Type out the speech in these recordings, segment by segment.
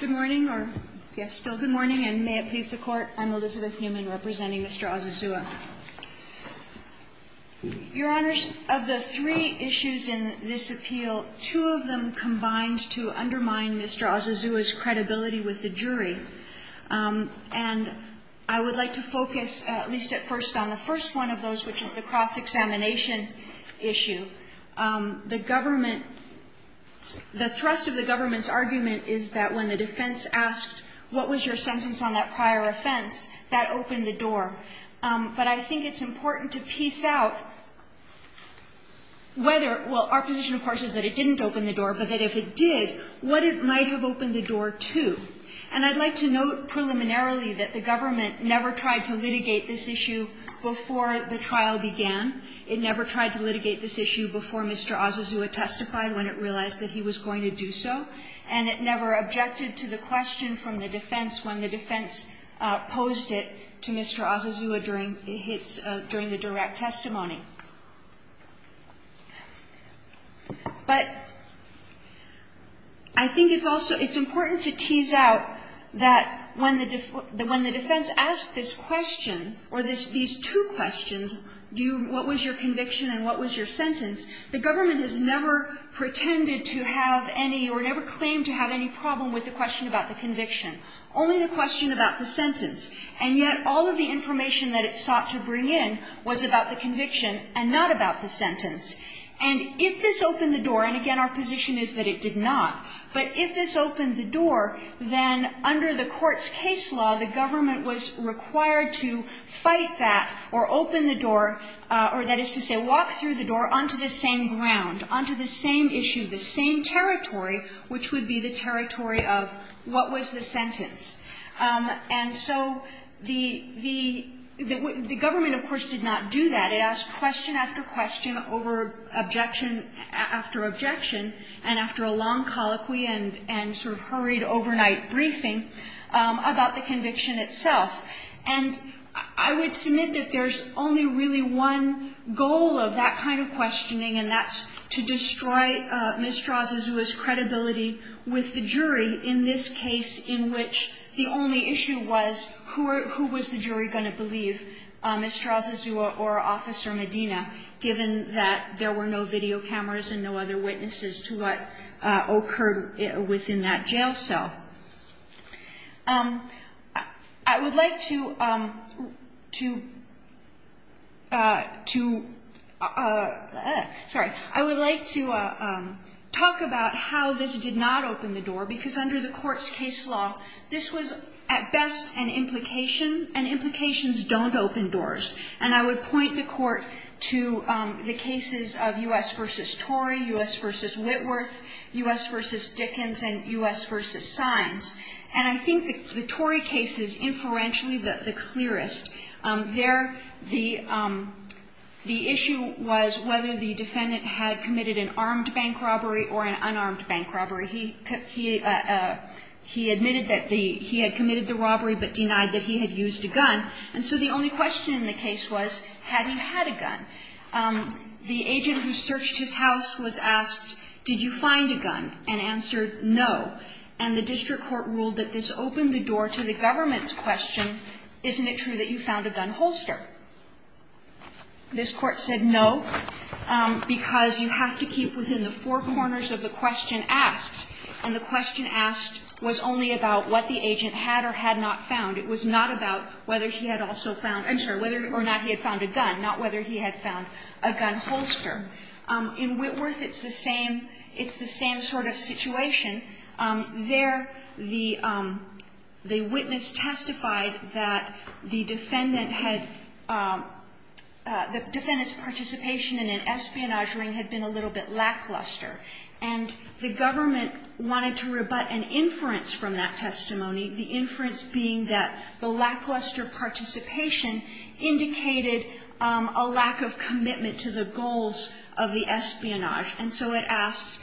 Good morning, or yes, still good morning, and may it please the Court, I'm Elizabeth Newman representing Mr. Osazuwa. Your Honors, of the three issues in this appeal, two of them combined to undermine Mr. Osazuwa's credibility with the jury. And I would like to focus at least at first on the first one of those, which is the cross-examination issue. The government – the thrust of the government's argument is that when the defense asked, what was your sentence on that prior offense, that opened the door. But I think it's important to piece out whether – well, our position, of course, is that it didn't open the door, but that if it did, what it might have opened the door to. And I'd like to note preliminarily that the government never tried to litigate this issue before the trial began. It never tried to litigate this issue before Mr. Osazuwa testified, when it realized that he was going to do so, and it never objected to the question from the defense when the defense posed it to Mr. Osazuwa during its – during the direct testimony. But I think it's also – it's important to tease out that when the defense asked this question, or these two questions, do you – what was your conviction and what was your sentence, the government has never pretended to have any or never claimed to have any problem with the question about the conviction, only the question about the sentence. And yet all of the information that it sought to bring in was about the conviction and not about the sentence. And if this opened the door – and again, our position is that it did not – but if this opened the door, then under the Court's case law, the government was required to fight that or open the door or, that is to say, walk through the door onto the same ground, onto the same issue, the same territory, which would be the territory of what was the sentence. And so the – the government, of course, did not do that. It asked question after question over objection after objection, and after a long colloquy and sort of hurried overnight briefing about the conviction itself. And I would submit that there's only really one goal of that kind of questioning, and that's to destroy Ms. Strazzazua's credibility with the jury in this case in which the only issue was who was the jury going to believe, Ms. Strazzazua or Officer Medina, given that there were no video cameras and no other witnesses to what occurred within that jail cell. I would like to – to – to – sorry. I would like to talk about how this did not open the door, because under the Court's case law, this was at best an implication, and implications don't open doors. And I would point the Court to the cases of U.S. v. Torrey, U.S. v. Whitworth, U.S. v. Dickens, and U.S. v. Sines. And I think the Torrey case is influentially the clearest. There, the – the issue was whether the defendant had committed an armed bank robbery or an unarmed bank robbery. He – he admitted that the – he had committed the robbery but denied that he had used a gun. And so the only question in the case was, had he had a gun? The agent who searched his house was asked, did you find a gun, and answered no. And the district court ruled that this opened the door to the government's question, isn't it true that you found a gun holster? This Court said no, because you have to keep within the four corners of the question asked, and the question asked was only about what the agent had or had not found. It was not about whether he had also found – I'm sorry, whether or not he had found a gun, not whether he had found a gun holster. In Whitworth, it's the same – it's the same sort of situation. There, the witness testified that the defendant had – the defendant's participation in an espionage ring had been a little bit lackluster. And the government wanted to rebut an inference from that testimony, the inference being that the lackluster participation indicated a lack of commitment to the goals of the espionage. And so it asked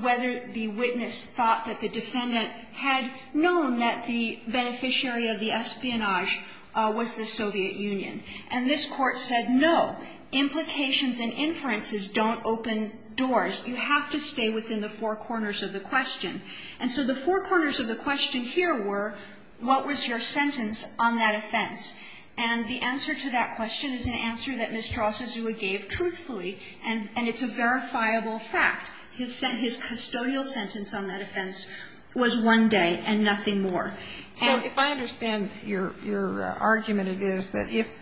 whether the witness thought that the defendant had known that the beneficiary of the espionage was the Soviet Union. And this Court said no, implications and inferences don't open doors. You have to stay within the four corners of the question. And so the four corners of the question here were, what was your sentence on that offense? And the answer to that question is an answer that Mr. Osazua gave truthfully, and it's a verifiable fact. His custodial sentence on that offense was one day and nothing more. And so if I understand your argument, it is that if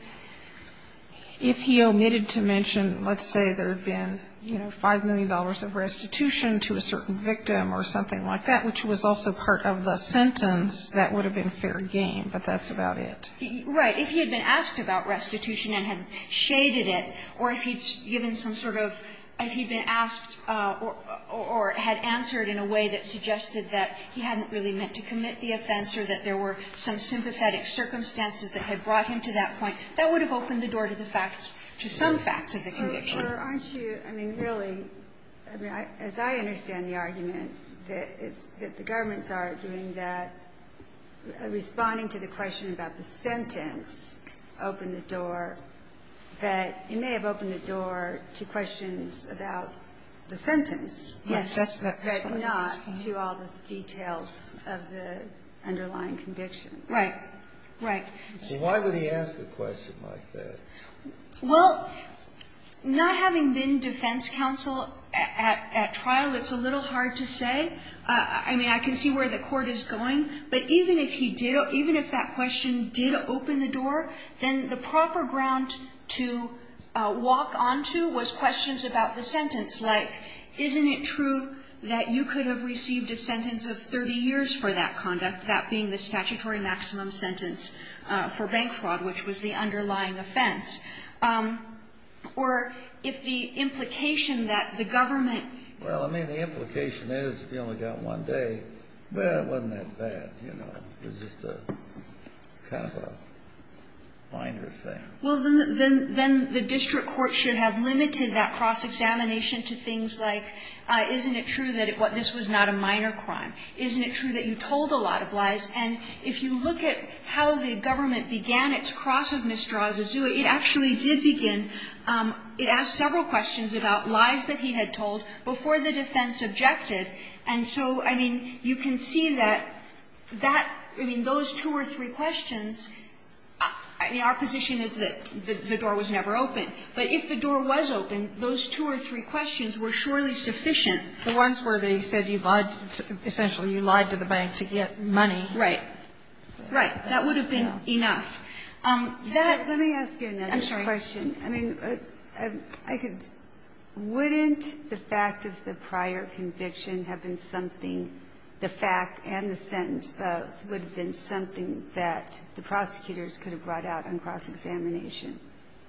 he omitted to mention, let's say, there had been, you know, $5 million of restitution to a certain victim or something like that, which was also part of the sentence, that would have been fair game, but that's about it. Right. If he had been asked about restitution and had shaded it, or if he'd given some sort of – if he'd been asked or had answered in a way that suggested that he hadn't really meant to commit the offense or that there were some sympathetic circumstances that had brought him to that point, that would have opened the door to the facts to some facts of the conviction. Aren't you – I mean, really, I mean, as I understand the argument, that it's – that the government's arguing that responding to the question about the sentence opened the door, that it may have opened the door to questions about the sentence. Yes. But not to all the details of the underlying conviction. Right. Right. So why would he ask a question like that? Well, not having been defense counsel at trial, it's a little hard to say. I mean, I can see where the court is going, but even if he did – even if that question did open the door, then the proper ground to walk onto was questions about the sentence, like, isn't it true that you could have received a sentence of 30 years for that conduct, that being the statutory maximum sentence for bank fraud, which is a minor offense, or if the implication that the government Well, I mean, the implication is if you only got one day, well, it wasn't that bad. You know, it was just a kind of a minor thing. Well, then the district court should have limited that cross-examination to things like, isn't it true that this was not a minor crime? And if you look at how the government began its cross of misdraws, it actually did begin – it asked several questions about lies that he had told before the defense objected. And so, I mean, you can see that that – I mean, those two or three questions – I mean, our position is that the door was never opened. But if the door was open, those two or three questions were surely sufficient. The ones where they said you lied – essentially you lied to the bank to get money. Right. Right. That would have been enough. Let me ask you another question. I'm sorry. I mean, I could – wouldn't the fact of the prior conviction have been something – the fact and the sentence both would have been something that the prosecutors could have brought out on cross-examination,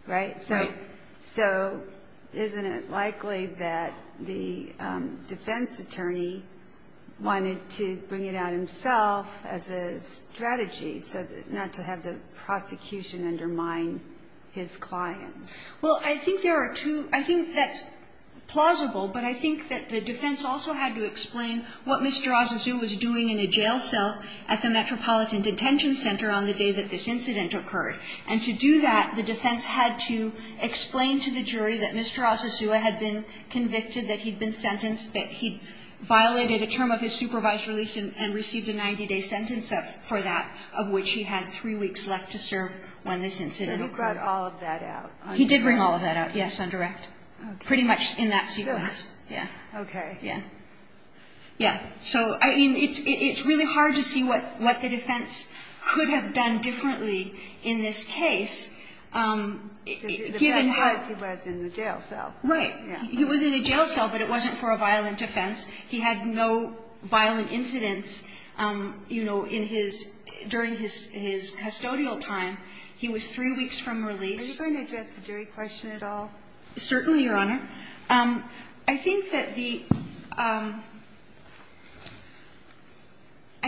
right? Right. So isn't it likely that the defense attorney wanted to bring it out himself as a strategy, so that – not to have the prosecution undermine his client? Well, I think there are two – I think that's plausible. But I think that the defense also had to explain what Mr. Azazua was doing in a jail cell at the Metropolitan Detention Center on the day that this incident occurred. And to do that, the defense had to explain to the jury that Mr. Azazua had been convicted, that he'd been sentenced, that he'd violated a term of his supervised release, and received a 90-day sentence for that, of which he had three weeks left to serve when this incident occurred. So he brought all of that out? He did bring all of that out, yes, on direct. Pretty much in that sequence. Yeah. Okay. Yeah. Yeah. So, I mean, it's really hard to see what the defense could have done differently in this case, given how – Because the fact was he was in the jail cell. Right. He was in a jail cell, but it wasn't for a violent offense. He had no violent incidents, you know, in his – during his custodial time. He was three weeks from release. Are you going to address the jury question at all? Certainly, Your Honor. I think that the – I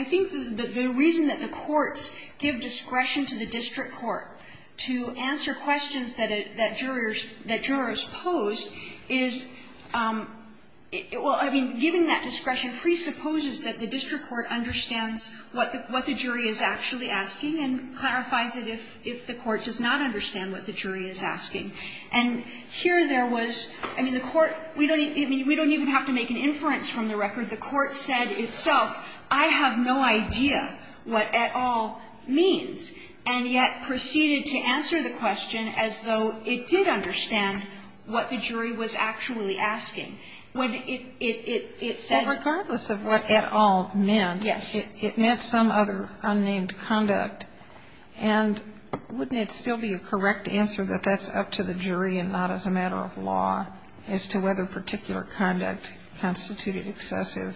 think the reason that the courts give discretion to the district court to answer questions that jurors – that jurors pose is – well, I mean, given that discretion presupposes that the district court understands what the jury is actually asking and clarifies it if the court does not understand what the jury is asking. And here there was – I mean, the court – we don't even have to make an inference from the record. The court said itself, I have no idea what at all means, and yet proceeded to answer the question as though it did understand what the jury was actually asking. When it said – But regardless of what at all meant, it meant some other unnamed conduct. And wouldn't it still be a correct answer that that's up to the jury and not as a matter of law as to whether particular conduct constituted excessive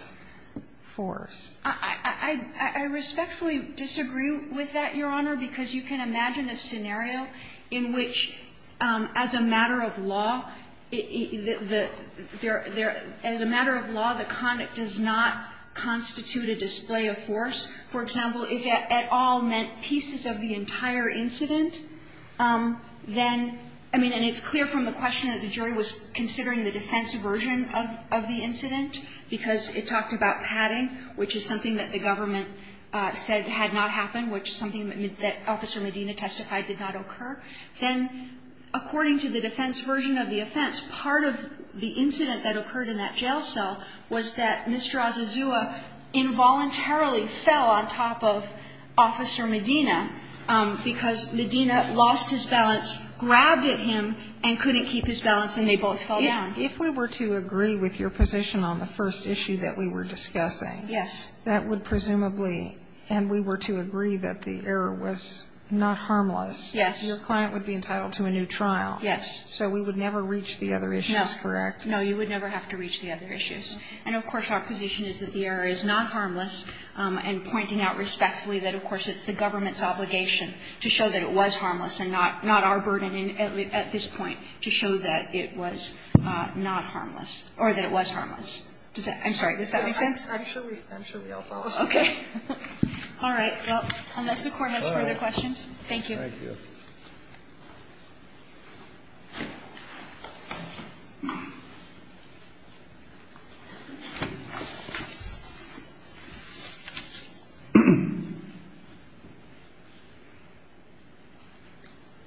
force? I respectfully disagree with that, Your Honor, because you can imagine a scenario in which, as a matter of law, there – as a matter of law, the conduct does not constitute a display of force. For example, if at all meant pieces of the entire incident, then – I mean, and it's clear from the question that the jury was considering the defense version of the incident because it talked about padding, which is something that the government said had not occurred, then according to the defense version of the offense, part of the incident that occurred in that jail cell was that Mr. Azazua involuntarily fell on top of Officer Medina because Medina lost his balance, grabbed at him, and couldn't keep his balance, and they both fell down. If we were to agree with your position on the first issue that we were discussing, that would presumably – and we were to agree that the error was not harmless, that your client would be entitled to a new trial. Yes. So we would never reach the other issues, correct? No. You would never have to reach the other issues. And, of course, our position is that the error is not harmless, and pointing out respectfully that, of course, it's the government's obligation to show that it was harmless and not our burden at this point to show that it was not harmless or that it was harmless. Does that – I'm sorry. Does that make sense? I'm sure we all follow. Okay. All right. Well, unless the Court has further questions, thank you. Thank you.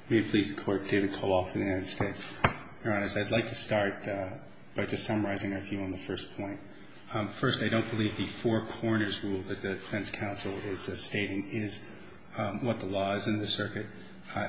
May it please the Court. David Koloff of the United States. Your Honor, I'd like to start by just summarizing our view on the first point. First, I don't believe the four corners rule that the defense counsel is stating is what the law is in the circuit.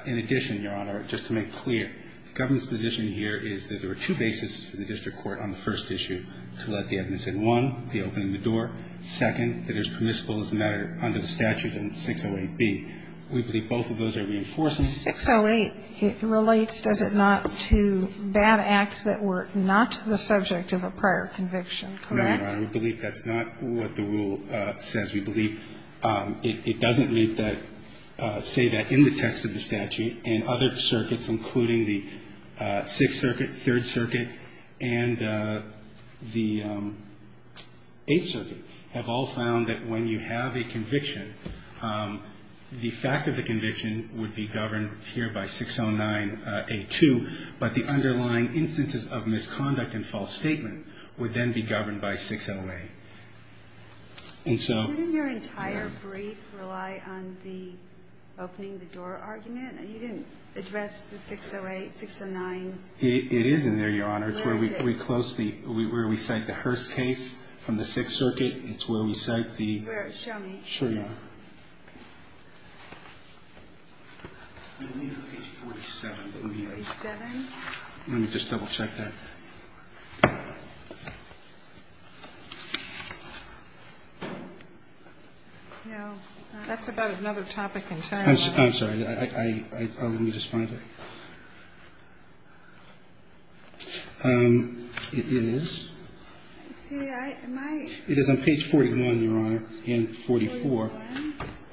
In addition, Your Honor, just to make clear, the government's position here is that there are two bases for the district court on the first issue to let the evidence in. One, the opening of the door. Second, that it's permissible as a matter under the statute in 608B. We believe both of those are reinforcing. 608 relates, does it not, to bad acts that were not the subject of a prior conviction, correct? No, Your Honor. We believe that's not what the rule says. We believe it doesn't make that, say that in the text of the statute and other circuits, including the Sixth Circuit, Third Circuit, and the Eighth Circuit, have all found that when you have a conviction, the fact of the conviction would be governed here by 609A2, but the underlying instances of misconduct and false statement would then be governed by 608. And so you didn't your entire brief rely on the opening the door argument? You didn't address the 608, 609. It is in there, Your Honor. It's where we close the, where we cite the Hurst case from the Sixth Circuit. It's where we cite the. Show me. Sure, Your Honor. Let me look at page 47. 47? Let me just double check that. No. That's about another topic in time. I'm sorry. Let me just find it. It is. It is on page 41, Your Honor. Again, 44.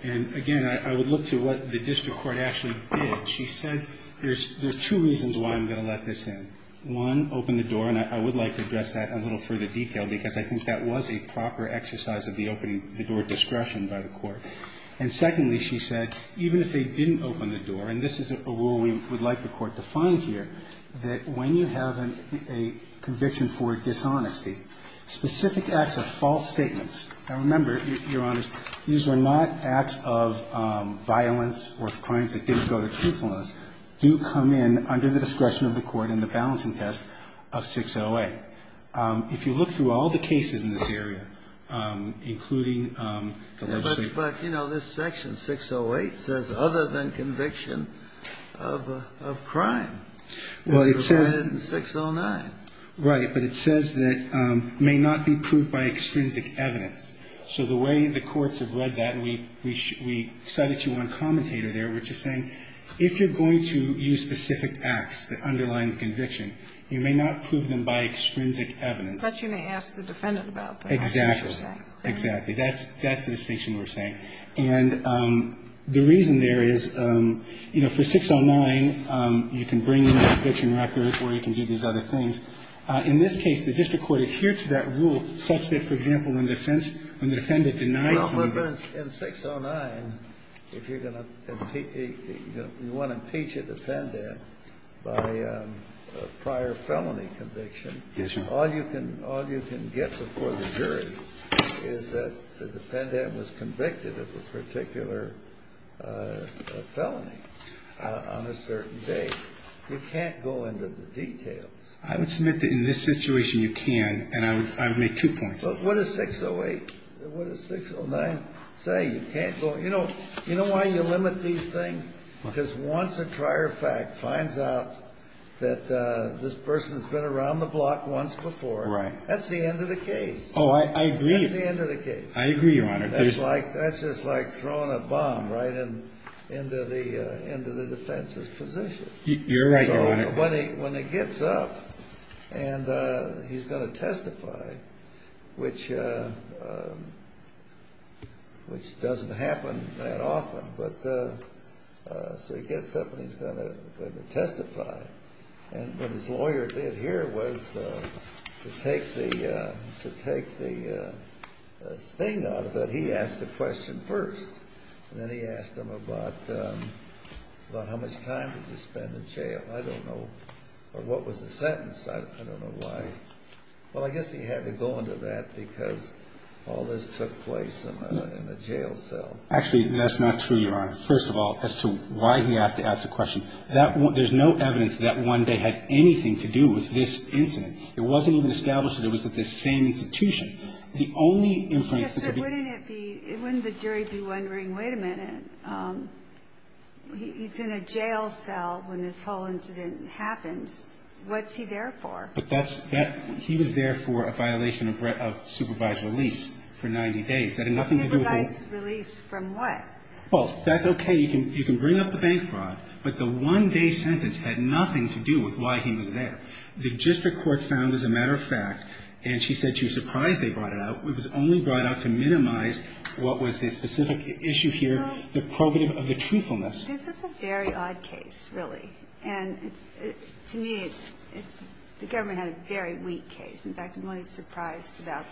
And again, I would look to what the district court actually did. She said there's two reasons why I'm going to let this in. One, open the door, and I would like to address that in a little further detail because I think that was a proper exercise of the opening the door discretion by the court. And secondly, she said, even if they didn't open the door, and this is a rule we would like the court to find here, that when you have a conviction for dishonesty, specific acts of false statements. Now, remember, Your Honors, these were not acts of violence or crimes that didn't go to truthfulness, do come in under the discretion of the court in the balancing test of 608. If you look through all the cases in this area, including the legislation. But, you know, this section, 608, says other than conviction of crime. Well, it says. It provided in 609. Right. But it says that may not be proved by extrinsic evidence. So the way the courts have read that, and we cited you on commentator there, which is saying, if you're going to use specific acts that underline the conviction, you may not prove them by extrinsic evidence. But you may ask the defendant about them. Exactly. Exactly. That's the distinction we're saying. And the reason there is, you know, for 609, you can bring in the conviction record or you can do these other things. In this case, the district court adhered to that rule such that, for example, when the defendant denied somebody. But in 609, if you're going to impeach, you want to impeach a defendant by a prior felony conviction. Yes, sir. All you can get before the jury is that the defendant was convicted of a particular felony on a certain date. You can't go into the details. I would submit that in this situation, you can, and I would make two points. What does 608, what does 609 say? You can't go, you know, you know why you limit these things? Because once a prior fact finds out that this person has been around the block once before. Right. That's the end of the case. Oh, I agree. That's the end of the case. I agree, Your Honor. That's like, that's just like throwing a bomb right into the defense's position. You're right, Your Honor. When he gets up and he's going to testify, which doesn't happen that often, but so he gets up and he's going to testify. And what his lawyer did here was to take the sting out of it. He asked the question first, and then he asked him about how much time did you spend in jail. I don't know, or what was the sentence? I don't know why. Well, I guess he had to go into that because all this took place in a jail cell. Actually, that's not true, Your Honor. First of all, as to why he asked to ask the question, there's no evidence that one day had anything to do with this incident. It wasn't even established that it was at this same institution. The only inference that could be. Yes, but wouldn't it be, wouldn't the jury be wondering, wait a minute, he's in a jail cell when this whole incident happens, what's he there for? But that's, that, he was there for a violation of supervised release for 90 days. That had nothing to do with. Supervised release from what? Well, that's okay. You can, you can bring up the bank fraud, but the one day sentence had nothing to do with why he was there. The district court found, as a matter of fact, and she said she was surprised they brought it out. It was only brought out to minimize what was the specific issue here, the probative of the truthfulness. This is a very odd case, really. And it's, to me, it's, it's, the government had a very weak case. In fact, I'm really surprised about,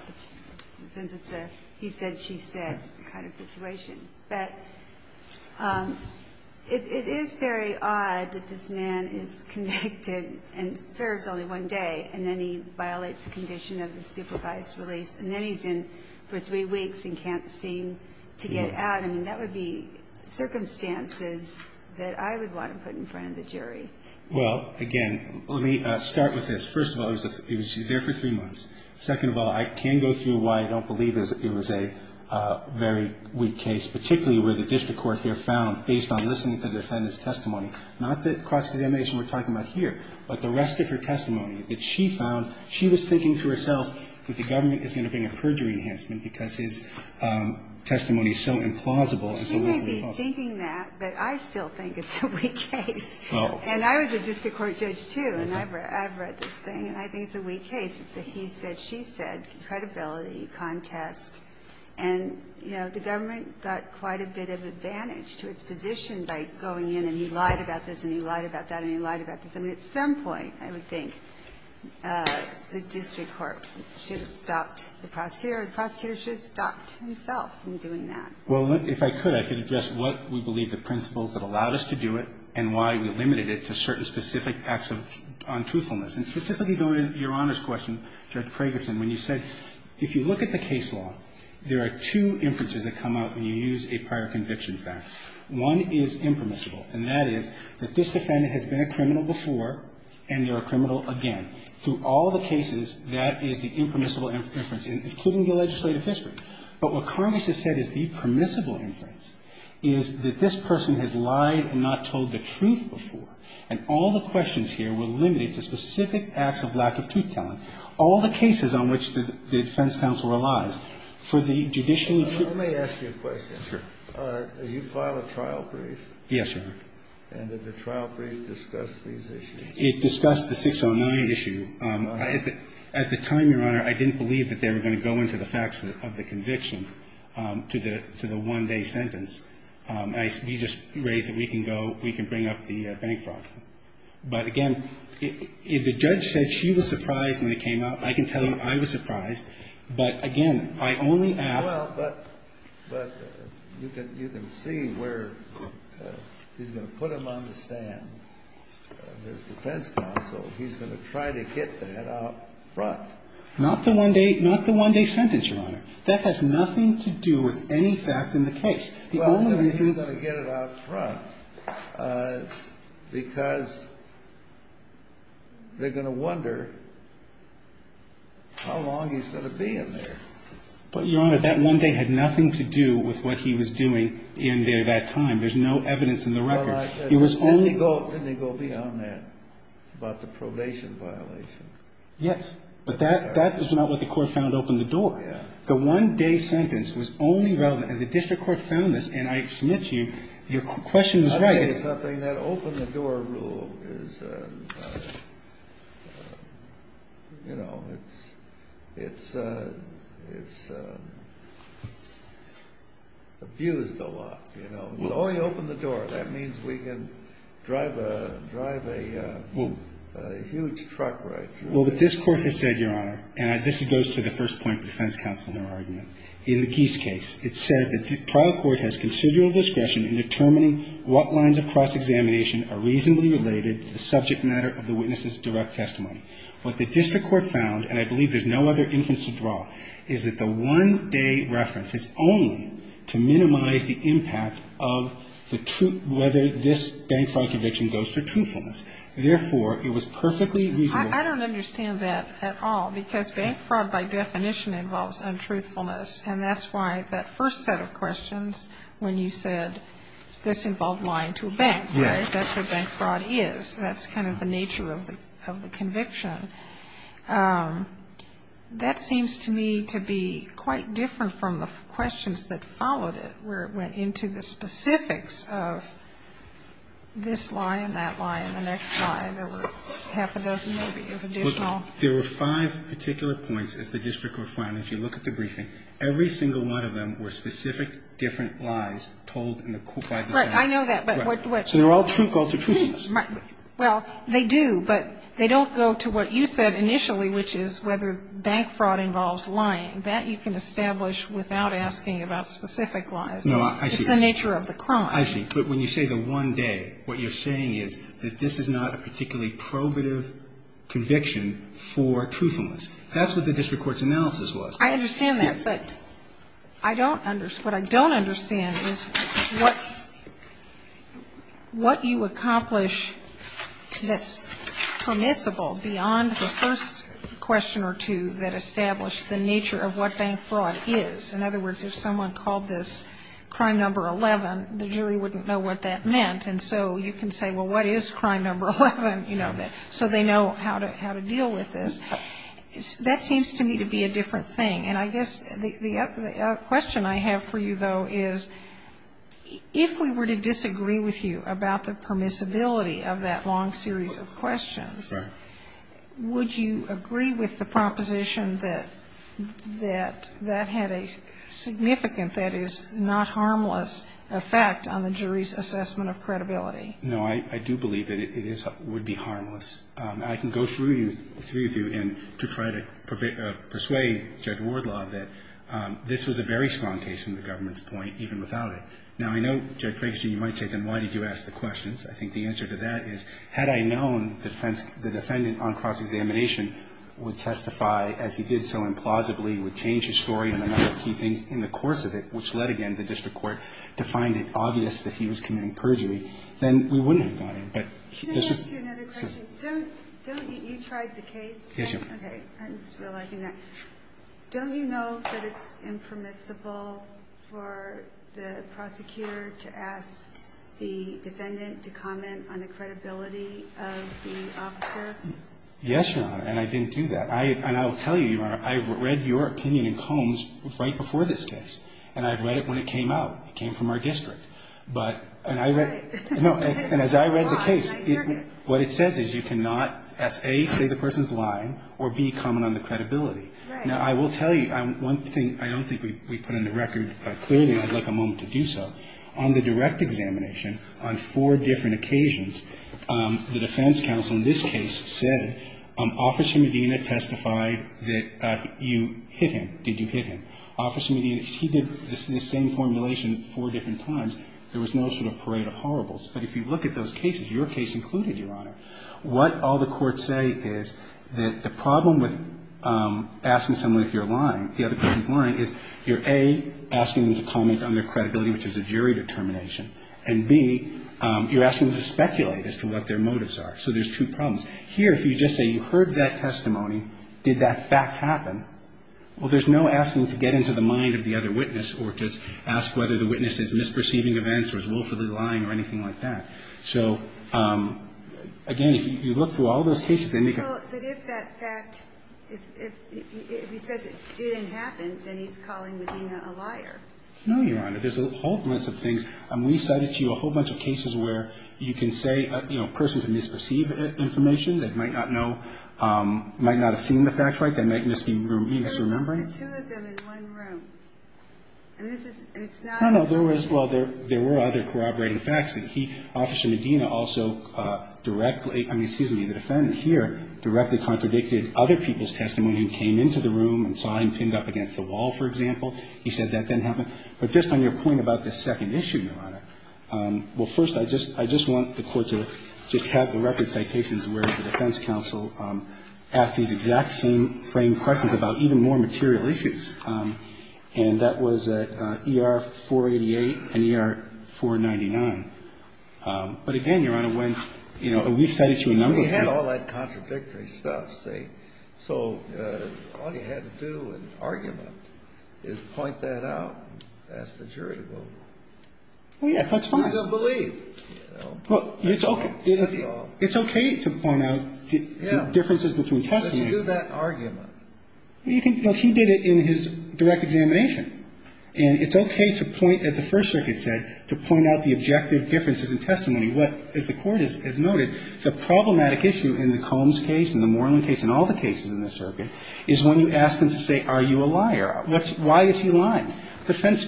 since it's a he said, she said kind of situation. But it, it is very odd that this man is convicted and serves only one day, and then he violates the condition of the supervised release. And then he's in for three weeks and can't seem to get out. I mean, that would be circumstances that I would want to put in front of the jury. Well, again, let me start with this. First of all, he was there for three months. Second of all, I can go through why I don't believe it was a very weak case, particularly where the district court here found, based on listening to the defendant's testimony, not that cross-examination we're talking about here, but the rest of her testimony that she found, she was thinking to herself that the government is going to bring a perjury enhancement because his testimony is so implausible. It's a legally false. He might be thinking that, but I still think it's a weak case. Oh. And I was a district court judge, too, and I've read this thing, and I think it's a weak case. It's a he said, she said credibility contest. And, you know, the government got quite a bit of advantage to its position by going in, and he lied about this, and he lied about that, and he lied about this. I mean, at some point, I would think the district court should have stopped the prosecutor, or the prosecutor should have stopped himself from doing that. Well, if I could, I could address what we believe the principles that allowed us to do it and why we limited it to certain specific acts of untruthfulness. And specifically going to Your Honor's question, Judge Pregeson, when you said, if you look at the case law, there are two inferences that come out when you use a prior conviction fax. One is impermissible, and that is that this defendant has been a criminal before and they're a criminal again. Through all the cases, that is the impermissible inference, including the legislative history. But what Congress has said is the permissible inference is that this person has lied and not told the truth before, and all the questions here were limited to specific acts of lack of truth-telling. All the cases on which the defense counsel relies, for the judicial and judicial questions. Yes, sir. Did you file a trial brief? Yes, Your Honor. And did the trial brief discuss these issues? It discussed the 609 issue. At the time, Your Honor, I didn't believe that they were going to go into the facts of the conviction to the one-day sentence. We just raised that we can go, we can bring up the bank fraud. But again, the judge said she was surprised when it came out. I can tell you I was surprised. But again, I only asked. Well, but you can see where he's going to put him on the stand, his defense counsel. He's going to try to get that out front. Not the one-day sentence, Your Honor. That has nothing to do with any fact in the case. The only reason he's going to get it out front, because they're going to wonder how long he's going to be in there. But, Your Honor, that one day had nothing to do with what he was doing in there that time. There's no evidence in the record. Didn't he go beyond that, about the probation violation? Yes, but that was not what the court found opened the door. The one-day sentence was only relevant, and the district court found this, and I submit to you, your question was right. I would say something, that open-the-door rule is, you know, it's abused a lot, you know. If you only open the door, that means we can drive a huge truck right through. Well, but this court has said, Your Honor, and I guess it goes to the first point of the defense counsel in their argument. In the Geese case, it said that the trial court has considerable discretion in determining what lines of cross-examination are reasonably related to the subject matter of the witness's direct testimony. What the district court found, and I believe there's no other inference to draw, is that the one-day reference is only to minimize the impact of the truth, whether this bank fraud conviction goes to truthfulness. Therefore, it was perfectly reasonable. I don't understand that at all, because bank fraud, by definition, involves untruthfulness, and that's why that first set of questions, when you said this involved lying to a bank, right? That's what bank fraud is. That's kind of the nature of the conviction. That seems to me to be quite different from the questions that followed it, where it went into the specifics of this lie There were five particular points, as the district court found. If you look at the briefing, every single one of them were specific, different lies told by the bank. Right. I know that, but what So they're all true calls to truthfulness. Well, they do, but they don't go to what you said initially, which is whether bank fraud involves lying. That you can establish without asking about specific lies. No, I see. It's the nature of the crime. But when you say the one day, what you're saying is that this is not a particularly probative conviction for truthfulness. That's what the district court's analysis was. I understand that, but I don't understand. What I don't understand is what you accomplish that's permissible beyond the first question or two that established the nature of what bank fraud is. In other words, if someone called this crime number 11, the jury wouldn't know what that meant. And so you can say, well, what is crime number 11? You know, so they know how to deal with this. That seems to me to be a different thing. And I guess the question I have for you, though, is if we were to disagree with you about the permissibility of that long series of questions. Right. Would you agree with the proposition that that had a significant, that is, not harmless effect on the jury's assessment of credibility? No, I do believe that it would be harmless. I can go through you and to try to persuade Judge Wardlaw that this was a very strong case from the government's point, even without it. Now, I know, Judge Frankstein, you might say, then, why did you ask the questions? I think the answer to that is, had I known the defendant on cross-examination would testify as he did so implausibly, would change his story and a number of key things in the course of it, which led, again, to the district court to find it obvious that he was committing perjury, then we wouldn't have gone in. Can I ask you another question? Don't you, you tried the case? Yes, Your Honor. Okay, I'm just realizing that. Don't you know that it's impermissible for the prosecutor to ask the defendant to comment on the credibility of the officer? Yes, Your Honor, and I didn't do that. And I will tell you, Your Honor, I've read your opinion in Combs right before this case, and I've read it when it came out. It came from our district, but, and I read, no, and as I read the case, what it says is you cannot, A, say the person's lying, or B, comment on the credibility. Now, I will tell you, one thing I don't think we put on the record clearly, and I'd like a moment to do so. On the direct examination, on four different occasions, the defense counsel in this case said, Officer Medina testified that you hit him. Did you hit him? Officer Medina, he did the same formulation four different times. There was no sort of parade of horribles. But if you look at those cases, your case included, Your Honor, what all the courts say is that the problem with, asking someone if you're lying, the other person's lying, is you're, A, asking them to comment on their credibility, which is a jury determination, and, B, you're asking them to speculate as to what their motives are. So there's two problems. Here, if you just say you heard that testimony, did that fact happen? Well, there's no asking to get into the mind of the other witness or to ask whether the witness is misperceiving events or is willfully lying or anything like that. So, again, if you look through all those cases, they make a. Well, but if that fact, if he says it didn't happen, then he's calling Medina a liar. No, Your Honor. There's a whole bunch of things. We cited to you a whole bunch of cases where you can say, you know, a person can misperceive information. They might not know, might not have seen the facts right. They might just be misremembering. There's just the two of them in one room. And this is, it's not. No, no, there was, well, there were other corroborating facts. And he, Officer Medina, also directly, I mean, excuse me, the defendant here, directly contradicted other people's testimony and came into the room and saw him pinned up against the wall, for example. He said that didn't happen. But just on your point about the second issue, Your Honor, well, first, I just want the Court to just have the record citations where the defense counsel asked these exact same framed questions about even more material issues. And that was at ER 488 and ER 499. But again, Your Honor, when, you know, we've cited to you a number of cases. Well, he had all that contradictory stuff, see. So all you had to do in argument is point that out and ask the jury to vote. Well, yeah, that's fine. And they'll believe. Well, it's okay to point out differences between testimony. Yeah, but you do that in argument. Well, you can, no, he did it in his direct examination. And it's okay to point, as the First Circuit said, to point out the objective differences in testimony. What, as the Court has noted, the problematic issue in the Combs case and the Moreland case and all the cases in this circuit is when you ask them to say, are you a liar? Why is he lying? The defense.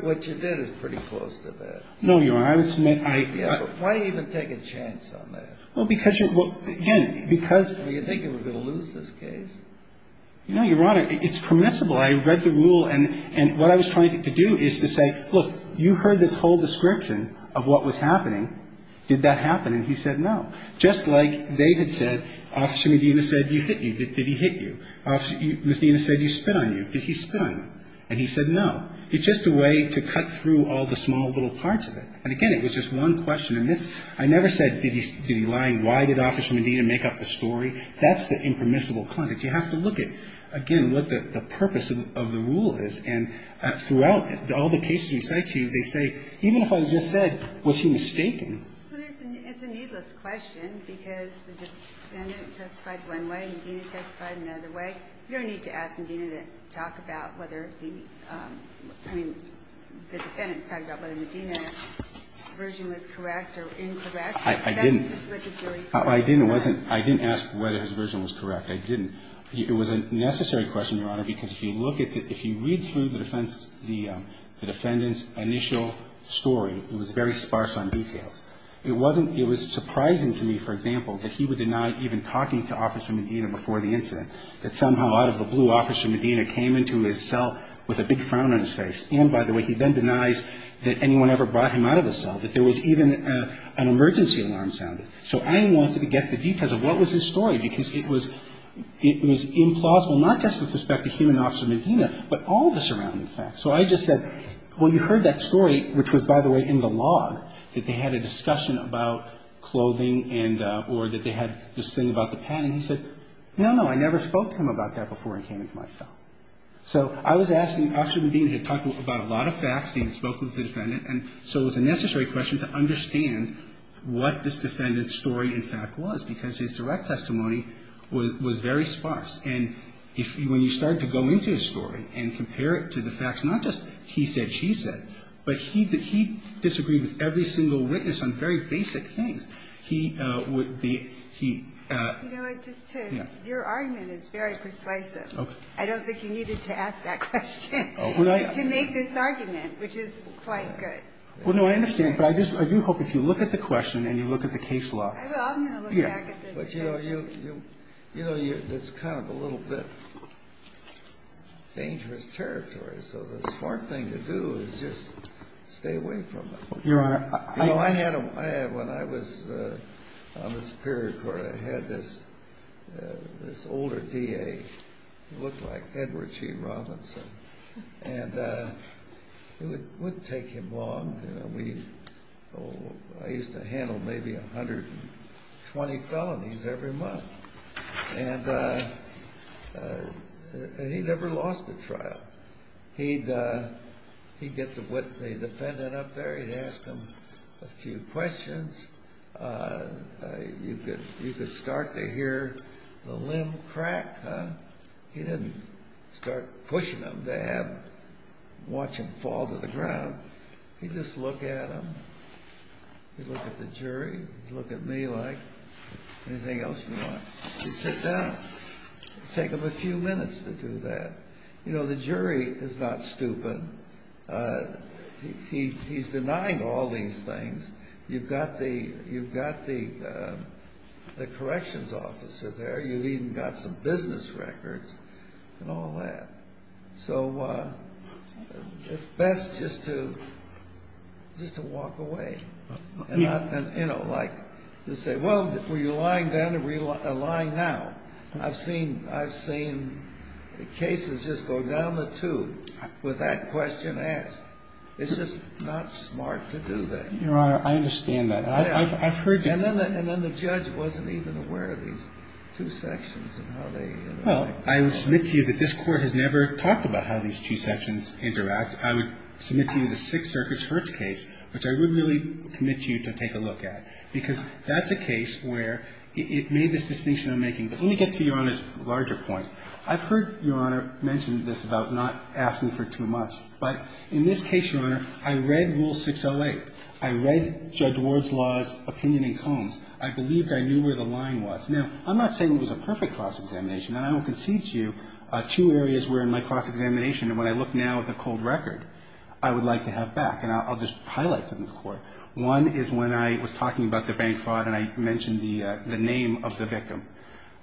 What you did is pretty close to that. No, Your Honor, I would submit. Yeah, but why even take a chance on that? Well, because you're, well, again, because. Well, you think you were going to lose this case? No, Your Honor, it's permissible. I read the rule. And what I was trying to do is to say, look, you heard this whole description of what was happening. Did that happen? And he said no. Just like they had said, Officer Medina said he hit you. Did he hit you? Miss Medina said he spit on you. Did he spit on you? And he said no. It's just a way to cut through all the small little parts of it. And again, it was just one question. And I never said, did he lie? Why did Officer Medina make up the story? That's the impermissible conduct. You have to look at, again, what the purpose of the rule is. And throughout all the cases we cite to you, they say, even if I just said, was he mistaken? Well, it's a needless question because the defendant testified one way, Medina testified another way. You don't need to ask Medina to talk about whether the, I mean, the defendant's talking about whether Medina's version was correct or incorrect. I didn't. I didn't ask whether his version was correct. I didn't. It was a necessary question, Your Honor, because if you look at, if you read through the defendant's initial story, it was very sparse on details. It wasn't, it was surprising to me, for example, that he would deny even talking to Officer Medina before the incident. That somehow out of the blue, Officer Medina came into his cell with a big frown on his face. And by the way, he then denies that anyone ever brought him out of the cell. That there was even an emergency alarm sounded. So I wanted to get the details of what was his story because it was, it was implausible, not just with respect to him and Officer Medina, but all the surrounding facts. So I just said, well, you heard that story, which was, by the way, in the log, that they had a discussion about clothing and, or that they had this thing about the patent. And he said, no, no, I never spoke to him about that before I came into my cell. So I was asking, Officer Medina had talked about a lot of facts, and he had spoken with the defendant. And so it was a necessary question to understand what this defendant's story, in fact, was. Because his direct testimony was very sparse. And if, when you start to go into his story and compare it to the facts, not just he said, she said. But he disagreed with every single witness on very basic things. He would be, he. You know what, just to, your argument is very persuasive. I don't think you needed to ask that question to make this argument, which is quite good. Well, no, I understand. But I just, I do hope if you look at the question and you look at the case law. I will. I'm going to look back at the case. But, you know, you, you know, that's kind of a little bit dangerous territory. So the smart thing to do is just stay away from it. Your Honor, I. When I was on the Superior Court, I had this, this older DA. He looked like Edward G. Robinson. And it would take him long. We, I used to handle maybe 120 felonies every month. And he never lost a trial. He'd, he'd get the witness, the defendant up there. He'd ask them a few questions. You could, you could start to hear the limb crack, huh? He didn't start pushing them to have, watch them fall to the ground. He'd just look at them. He'd look at the jury. He'd look at me like, anything else you want? He'd sit down. Take him a few minutes to do that. You know, the jury is not stupid. He, he's denying all these things. You've got the, you've got the, the corrections officer there. You've even got some business records and all that. So it's best just to, just to walk away. And, you know, like, you say, well, were you lying then or were you lying now? I've seen, I've seen cases just go down the tube with that question asked. It's just not smart to do that. Your Honor, I understand that. I've, I've heard you. And then, and then the judge wasn't even aware of these two sections and how they interact. Well, I will submit to you that this Court has never talked about how these two sections interact. I would submit to you the Sixth Circuit's Hertz case, which I would really commit to you to take a look at. Because that's a case where it, it made this distinction I'm making. But let me get to Your Honor's larger point. I've heard Your Honor mention this about not asking for too much. But in this case, Your Honor, I read Rule 608. I read Judge Ward's Law's opinion in Combs. I believed I knew where the line was. Now, I'm not saying it was a perfect cross-examination. And I will concede to you two areas where in my cross-examination, and when I look now at the cold record, I would like to have back. And I'll, I'll just highlight them to the Court. One is when I was talking about the bank fraud and I mentioned the, the name of the victim.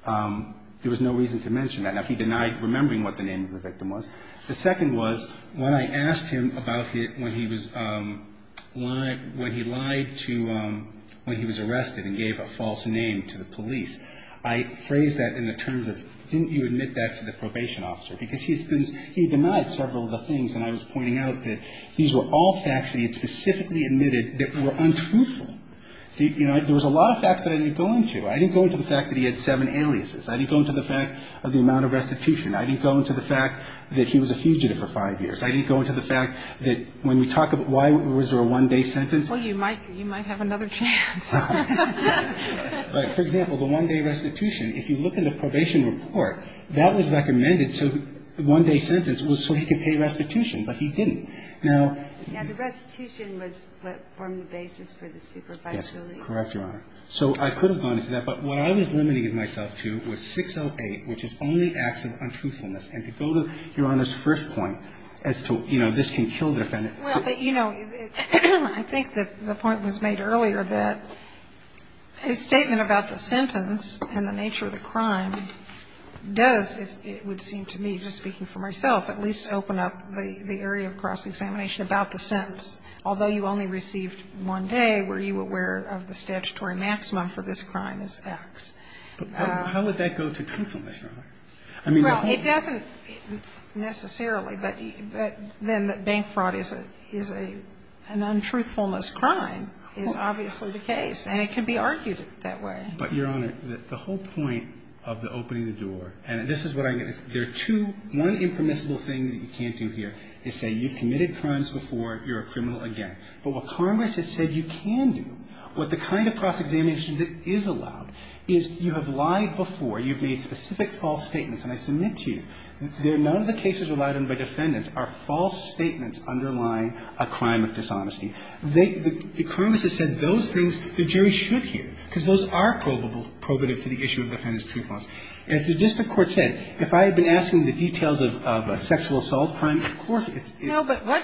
There was no reason to mention that. Now, he denied remembering what the name of the victim was. The second was when I asked him about it when he was, when he lied to, when he was arrested and gave a false name to the police. I phrased that in the terms of, didn't you admit that to the probation officer? Because he, because he denied several of the things. And I was pointing out that these were all facts that he had specifically admitted that were untruthful. The, you know, there was a lot of facts that I didn't go into. I didn't go into the fact that he had seven aliases. I didn't go into the fact of the amount of restitution. I didn't go into the fact that he was a fugitive for five years. I didn't go into the fact that when we talk about why was there a one-day sentence? Well, you might, you might have another chance. But for example, the one-day restitution, if you look in the probation report, that was recommended, so the one-day sentence was so he could pay restitution. But he didn't. Now the restitution was what formed the basis for the supervised release. Correct, Your Honor. So I could have gone into that. But what I was limiting myself to was 608, which is only acts of untruthfulness. And to go to Your Honor's first point as to, you know, this can kill the defendant. Well, but, you know, I think that the point was made earlier that his statement about the sentence and the nature of the crime does, it would seem to me, just speaking for myself, at least open up the area of cross-examination about the sentence. Although you only received one day, were you aware of the statutory maximum for this crime as acts? But how would that go to truthfulness, Your Honor? I mean, the whole thing. Well, it doesn't necessarily, but then that bank fraud is a, is a, an untruthfulness crime is obviously the case. And it can be argued that way. But, Your Honor, the whole point of the opening the door, and this is what I get. There are two, one impermissible thing that you can't do here is say you've committed crimes before, you're a criminal again. But what Congress has said you can do, what the kind of cross-examination that is allowed, is you have lied before, you've made specific false statements. And I submit to you that none of the cases relied on by defendants are false statements underlying a crime of dishonesty. They, the Congress has said those things the jury should hear, because those are probable, probative to the issue of defendant's truthfulness. As the district court said, if I had been asking the details of a sexual assault crime, of course it's, it's. No, but what,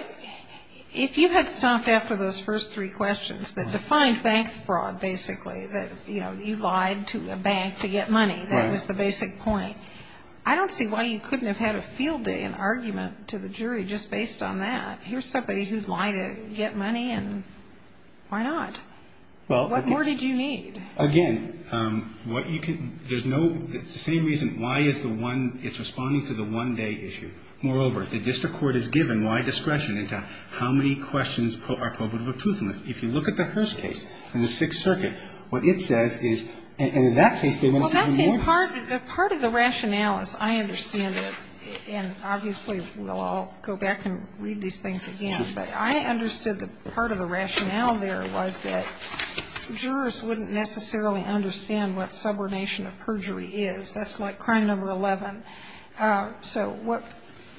if you had stopped after those first three questions that defined bank fraud, basically, that, you know, you lied to a bank to get money, that was the basic point. I don't see why you couldn't have had a field day, an argument to the jury just based on that. Here's somebody who lied to get money, and why not? What more did you need? Again, what you can, there's no, it's the same reason why is the one, it's responding to the one-day issue. Moreover, the district court is given wide discretion into how many questions are probative or truthfulness. If you look at the Hearst case in the Sixth Circuit, what it says is, and in that case, they went even more. Well, that's in part, part of the rationales, I understand it. And obviously, we'll all go back and read these things again. But I understood that part of the rationale there was that jurors wouldn't necessarily understand what subordination of perjury is. That's like crime number 11. So what,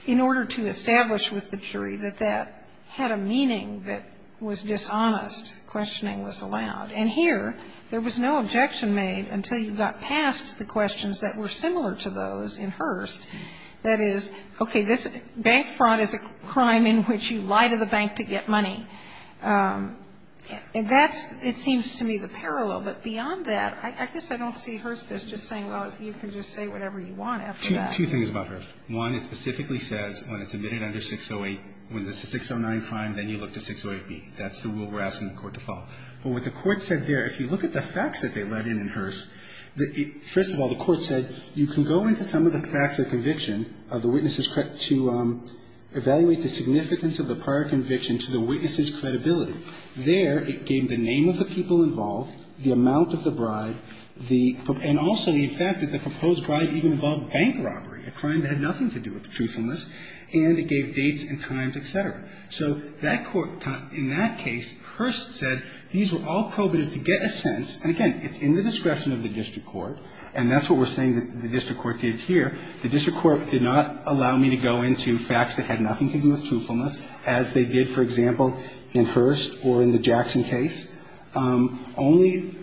in order to establish with the jury that that had a meaning that was dishonest, questioning was allowed. And here, there was no objection made until you got past the questions that were similar to those in Hearst. That is, okay, this bank fraud is a crime in which you lie to the bank to get money. And that's, it seems to me, the parallel. But beyond that, I guess I don't see Hearst as just saying, well, you can just say whatever you want after that. Roberts. Two things about Hearst. One, it specifically says when it's admitted under 608, when it's a 609 crime, then you look to 608B. That's the rule we're asking the Court to follow. First of all, the Court said, you can go into some of the facts of conviction of the witnesses to evaluate the significance of the prior conviction to the witness's credibility. There, it gave the name of the people involved, the amount of the bribe, and also the fact that the proposed bribe even involved bank robbery, a crime that had nothing to do with truthfulness. And it gave dates and times, et cetera. So that Court, in that case, Hearst said these were all probative to get a sense. And again, it's in the discretion of the district court. And that's what we're saying that the district court did here. The district court did not allow me to go into facts that had nothing to do with truthfulness, as they did, for example, in Hearst or in the Jackson case, only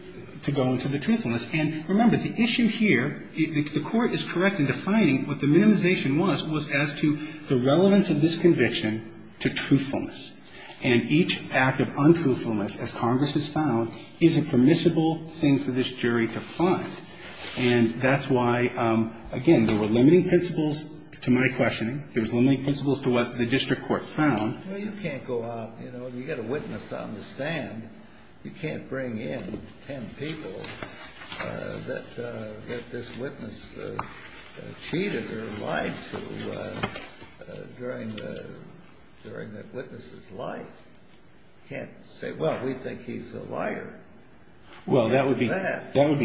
to go into the truthfulness. And remember, the issue here, the Court is correct in defining what the minimization was, was as to the relevance of this conviction to truthfulness. And each act of untruthfulness, as Congress has found, is a permissible thing for this jury to find. And that's why, again, there were limiting principles to my questioning. There was limiting principles to what the district court found. Well, you can't go out, you know, and you've got a witness on the stand. You can't bring in 10 people that this witness cheated or lied to during the witness's life. You can't say, well, we think he's a liar. Well, that would be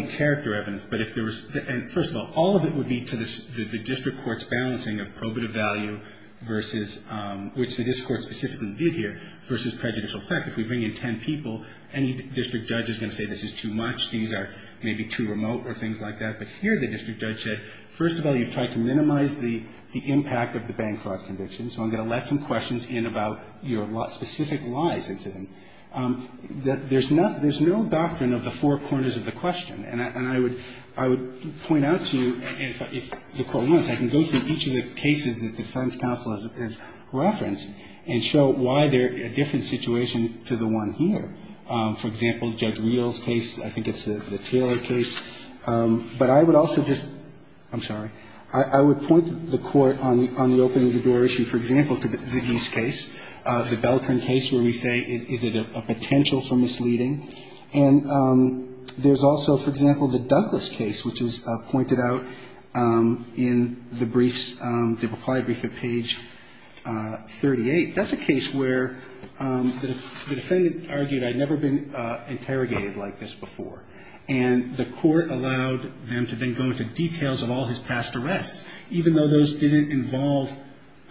character evidence. But if there was – and first of all, all of it would be to the district court's value versus – which the district court specifically did here versus prejudicial fact. If we bring in 10 people, any district judge is going to say this is too much, these are maybe too remote or things like that. But here the district judge said, first of all, you've tried to minimize the impact of the bank fraud conviction, so I'm going to let some questions in about your specific lies into them. There's no doctrine of the four corners of the question. And I would point out to you, if the Court wants, I can go through each of the cases that the defense counsel has referenced and show why they're a different situation to the one here. For example, Judge Wheel's case, I think it's the Taylor case. But I would also just – I'm sorry. I would point the Court on the opening the door issue, for example, to the East case, the Beltran case where we say is it a potential for misleading. And there's also, for example, the Douglas case which is pointed out in the briefs, the reply brief at page 38. That's a case where the defendant argued I'd never been interrogated like this before. And the Court allowed them to then go into details of all his past arrests, even though those didn't involve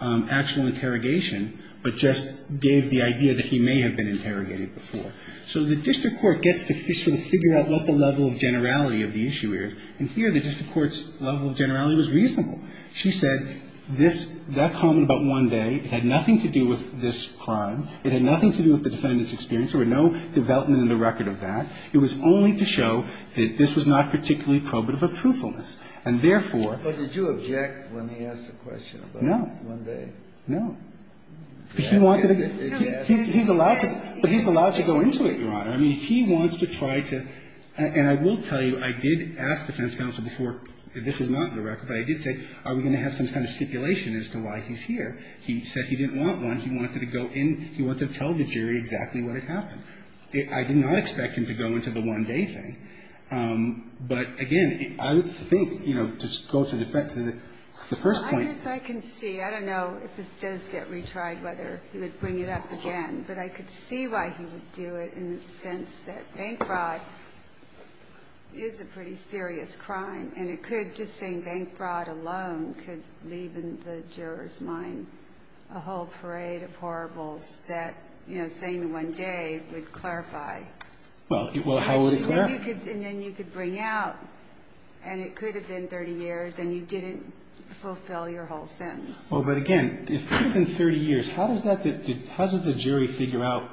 actual interrogation, but just gave the idea that he may have been interrogated before. So the district court gets to sort of figure out what the level of generality of the issue is. And here the district court's level of generality was reasonable. She said this – that comment about one day, it had nothing to do with this crime. It had nothing to do with the defendant's experience. There were no development in the record of that. It was only to show that this was not particularly probative of truthfulness. And therefore – Kennedy. But did you object when he asked the question about one day? No. He's allowed to go into it, Your Honor. I mean, he wants to try to – and I will tell you, I did ask defense counsel before – this is not in the record, but I did say, are we going to have some kind of stipulation as to why he's here? He said he didn't want one. He wanted to go in. He wanted to tell the jury exactly what had happened. I did not expect him to go into the one-day thing. But again, I would think, you know, to go to the first point – I guess I can see. I don't know if this does get retried, whether he would bring it up again. But I could see why he would do it in the sense that bank fraud is a pretty serious crime, and it could – just saying bank fraud alone could leave in the juror's mind a whole parade of horribles that, you know, saying one day would clarify. Well, how would it clarify? And then you could bring out – and it could have been 30 years, and you didn't fulfill your whole sentence. Well, but again, it could have been 30 years. How does that – how does the jury figure out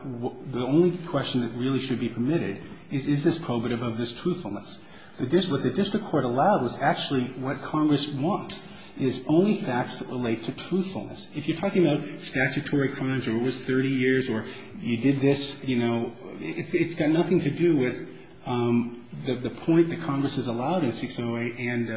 the only question that really should be permitted is, is this probative of this truthfulness? What the district court allowed was actually what Congress wants, is only facts that relate to truthfulness. If you're talking about statutory crimes or it was 30 years or you did this, you know, it's got nothing to do with the point that Congress has allowed in 608 and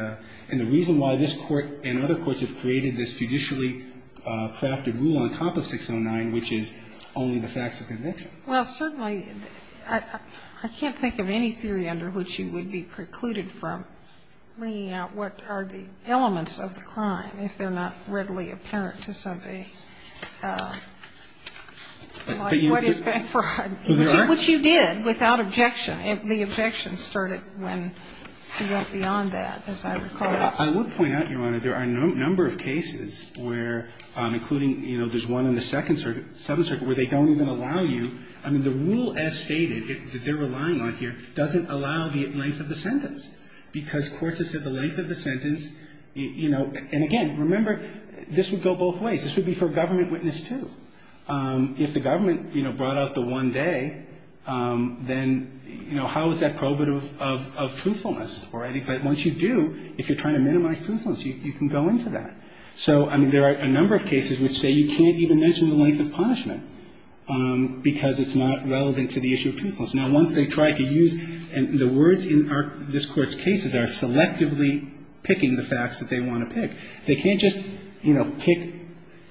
the reason why this Court and other courts have created this judicially crafted rule on top of 609, which is only the facts of conviction. Well, certainly, I can't think of any theory under which you would be precluded from bringing out what are the elements of the crime if they're not readily apparent to somebody like what is bank fraud, which you did without objection. The objection started when you went beyond that, as I recall. I would point out, Your Honor, there are a number of cases where, including, you know, there's one in the Second Circuit where they don't even allow you – I mean, the rule as stated, that they're relying on here, doesn't allow the length of the sentence because courts have said the length of the sentence, you know – and again, remember, this would go both ways. This would be for a government witness, too. If the government, you know, brought out the one day, then, you know, how is that prohibitive of truthfulness? Once you do, if you're trying to minimize truthfulness, you can go into that. So, I mean, there are a number of cases which say you can't even mention the length of punishment because it's not relevant to the issue of truthfulness. Now, once they try to use – and the words in this Court's cases are selectively picking the facts that they want to pick. They can't just, you know, pick –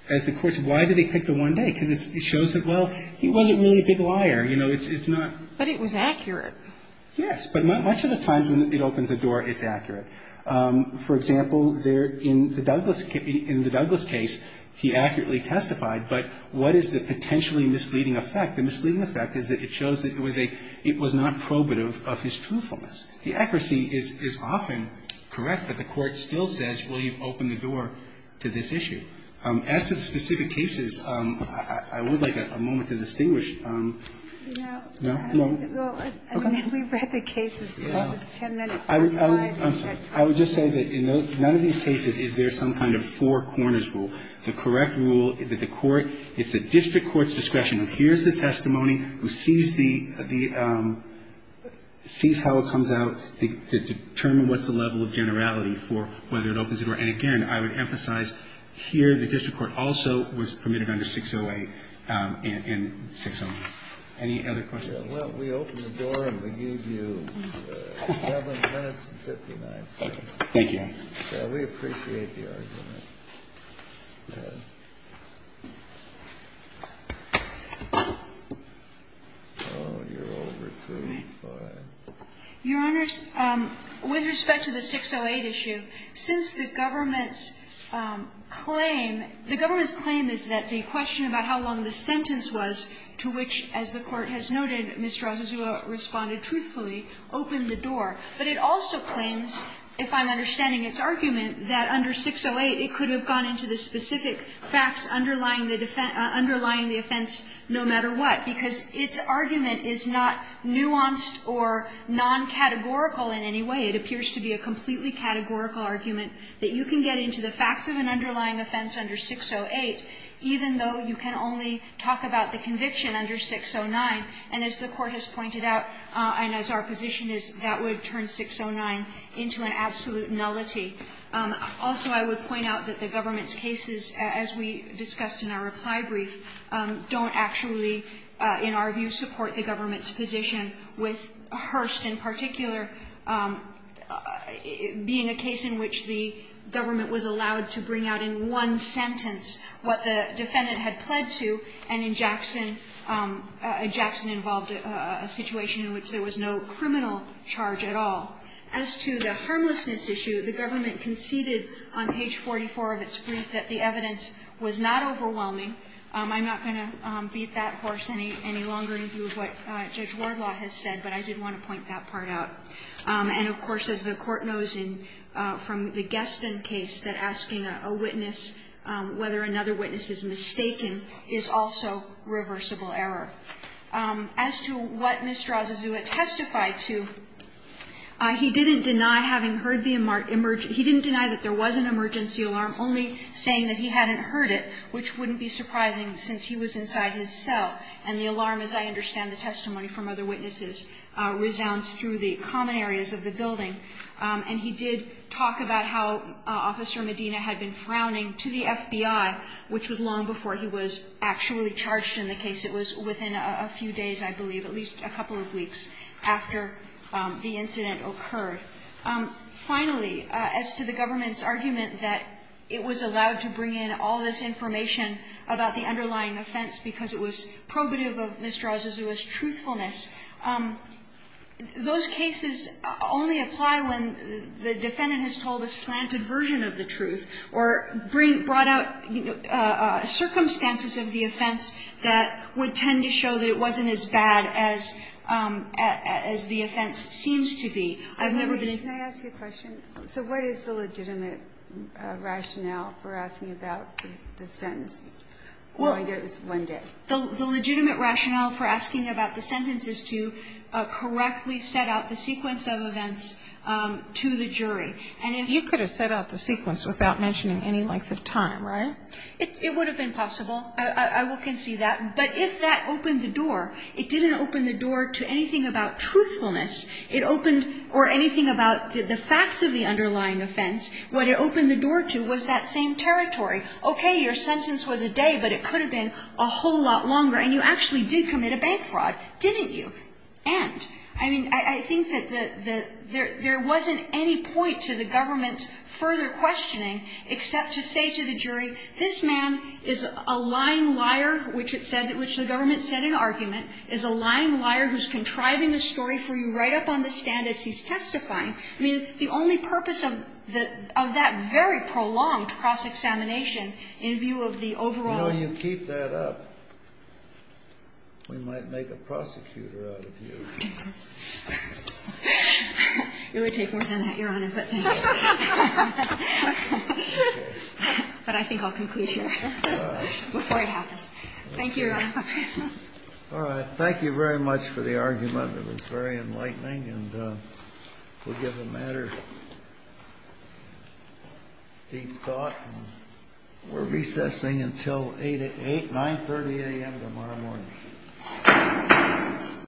as the courts, why do they pick the one day? Because it shows that, well, he wasn't really a big liar. You know, it's not – But it was accurate. Yes. But much of the times when it opens a door, it's accurate. For example, there – in the Douglas case, he accurately testified, but what is the potentially misleading effect? The misleading effect is that it shows that it was a – it was not probative of his truthfulness. The accuracy is often correct, but the Court still says, well, you've opened the door to this issue. As to the specific cases, I would like a moment to distinguish – No. No? No? No. I mean, we've read the cases. It's ten minutes. One slide. I'm sorry. I would just say that in none of these cases is there some kind of four corners rule. The correct rule that the Court – it's a district court's discretion. Who hears the testimony, who sees the – sees how it comes out, to determine what's the level of generality for whether it opens the door. And again, I would emphasize here the district court also was permitted under 608 and 609. Any other questions? Well, we open the door and we give you 11 minutes and 59 seconds. Thank you. We appreciate the argument. Go ahead. Oh, you're over two. Go ahead. Your Honors, with respect to the 608 issue, since the government's claim – the government's claim is that the question about how long the sentence was to which, as the Court has noted, Ms. Dracozua responded truthfully, opened the door. But it also claims, if I'm understanding its argument, that under 608 it could have gone into the specific facts underlying the defense – underlying the offense no matter what, because its argument is not nuanced or non-categorical in any way. It appears to be a completely categorical argument that you can get into the facts of an underlying offense under 608, even though you can only talk about the conviction under 609. And as the Court has pointed out, and as our position is, that would turn 609 into an absolute nullity. Also, I would point out that the government's cases, as we discussed in our reply brief, don't actually, in our view, support the government's position, with Hurst in particular being a case in which the government was allowed to bring out in one sentence what the defendant had pledged to, and in Jackson – Jackson involved a situation in which there was no criminal charge at all. As to the harmlessness issue, the government conceded on page 44 of its brief that the evidence was not overwhelming. I'm not going to beat that horse any longer in view of what Judge Wardlaw has said, but I did want to point that part out. And, of course, as the Court knows from the Gaston case, that asking a witness whether another witness is mistaken is also reversible error. As to what Mr. Azazua testified to, he didn't deny having heard the – he didn't deny that there was an emergency alarm, only saying that he hadn't heard it, which wouldn't be surprising since he was inside his cell. And the alarm, as I understand the testimony from other witnesses, resounds through the common areas of the building. And he did talk about how Officer Medina had been frowning to the FBI, which was long before he was actually charged in the case. It was within a few days, I believe, at least a couple of weeks after the incident occurred. Finally, as to the government's argument that it was allowed to bring in all this information about the underlying offense because it was probative of Mr. Azazua's truthfulness, those cases only apply when the defendant has told a slanted version of the truth or brought out circumstances of the offense that would tend to show that it wasn't as bad as the offense seems to be. I've never been in – Can I ask you a question? So what is the legitimate rationale for asking about the sentence? Well, the legitimate rationale for asking about the sentence is to correctly set out the sequence of events to the jury. And if – You could have set out the sequence without mentioning any length of time, right? It would have been possible. I can see that. But if that opened the door, it didn't open the door to anything about truthfulness. It opened – or anything about the facts of the underlying offense. What it opened the door to was that same territory. Okay, your sentence was a day, but it could have been a whole lot longer, and you actually did commit a bank fraud, didn't you? And, I mean, I think that the – there wasn't any point to the government's further questioning except to say to the jury, this man is a lying liar, which it said – which the government said in argument is a lying liar who's contriving the story for you right up on the stand as he's testifying. I mean, the only purpose of that very prolonged cross-examination in view of the overall – You know, you keep that up, we might make a prosecutor out of you. It would take more than that, Your Honor, but thanks. But I think I'll conclude here before it happens. Thank you, Your Honor. All right. Thank you very much for the argument. It was very enlightening, and we'll give the matter deep thought. We're recessing until 8 – 9.30 a.m. tomorrow morning.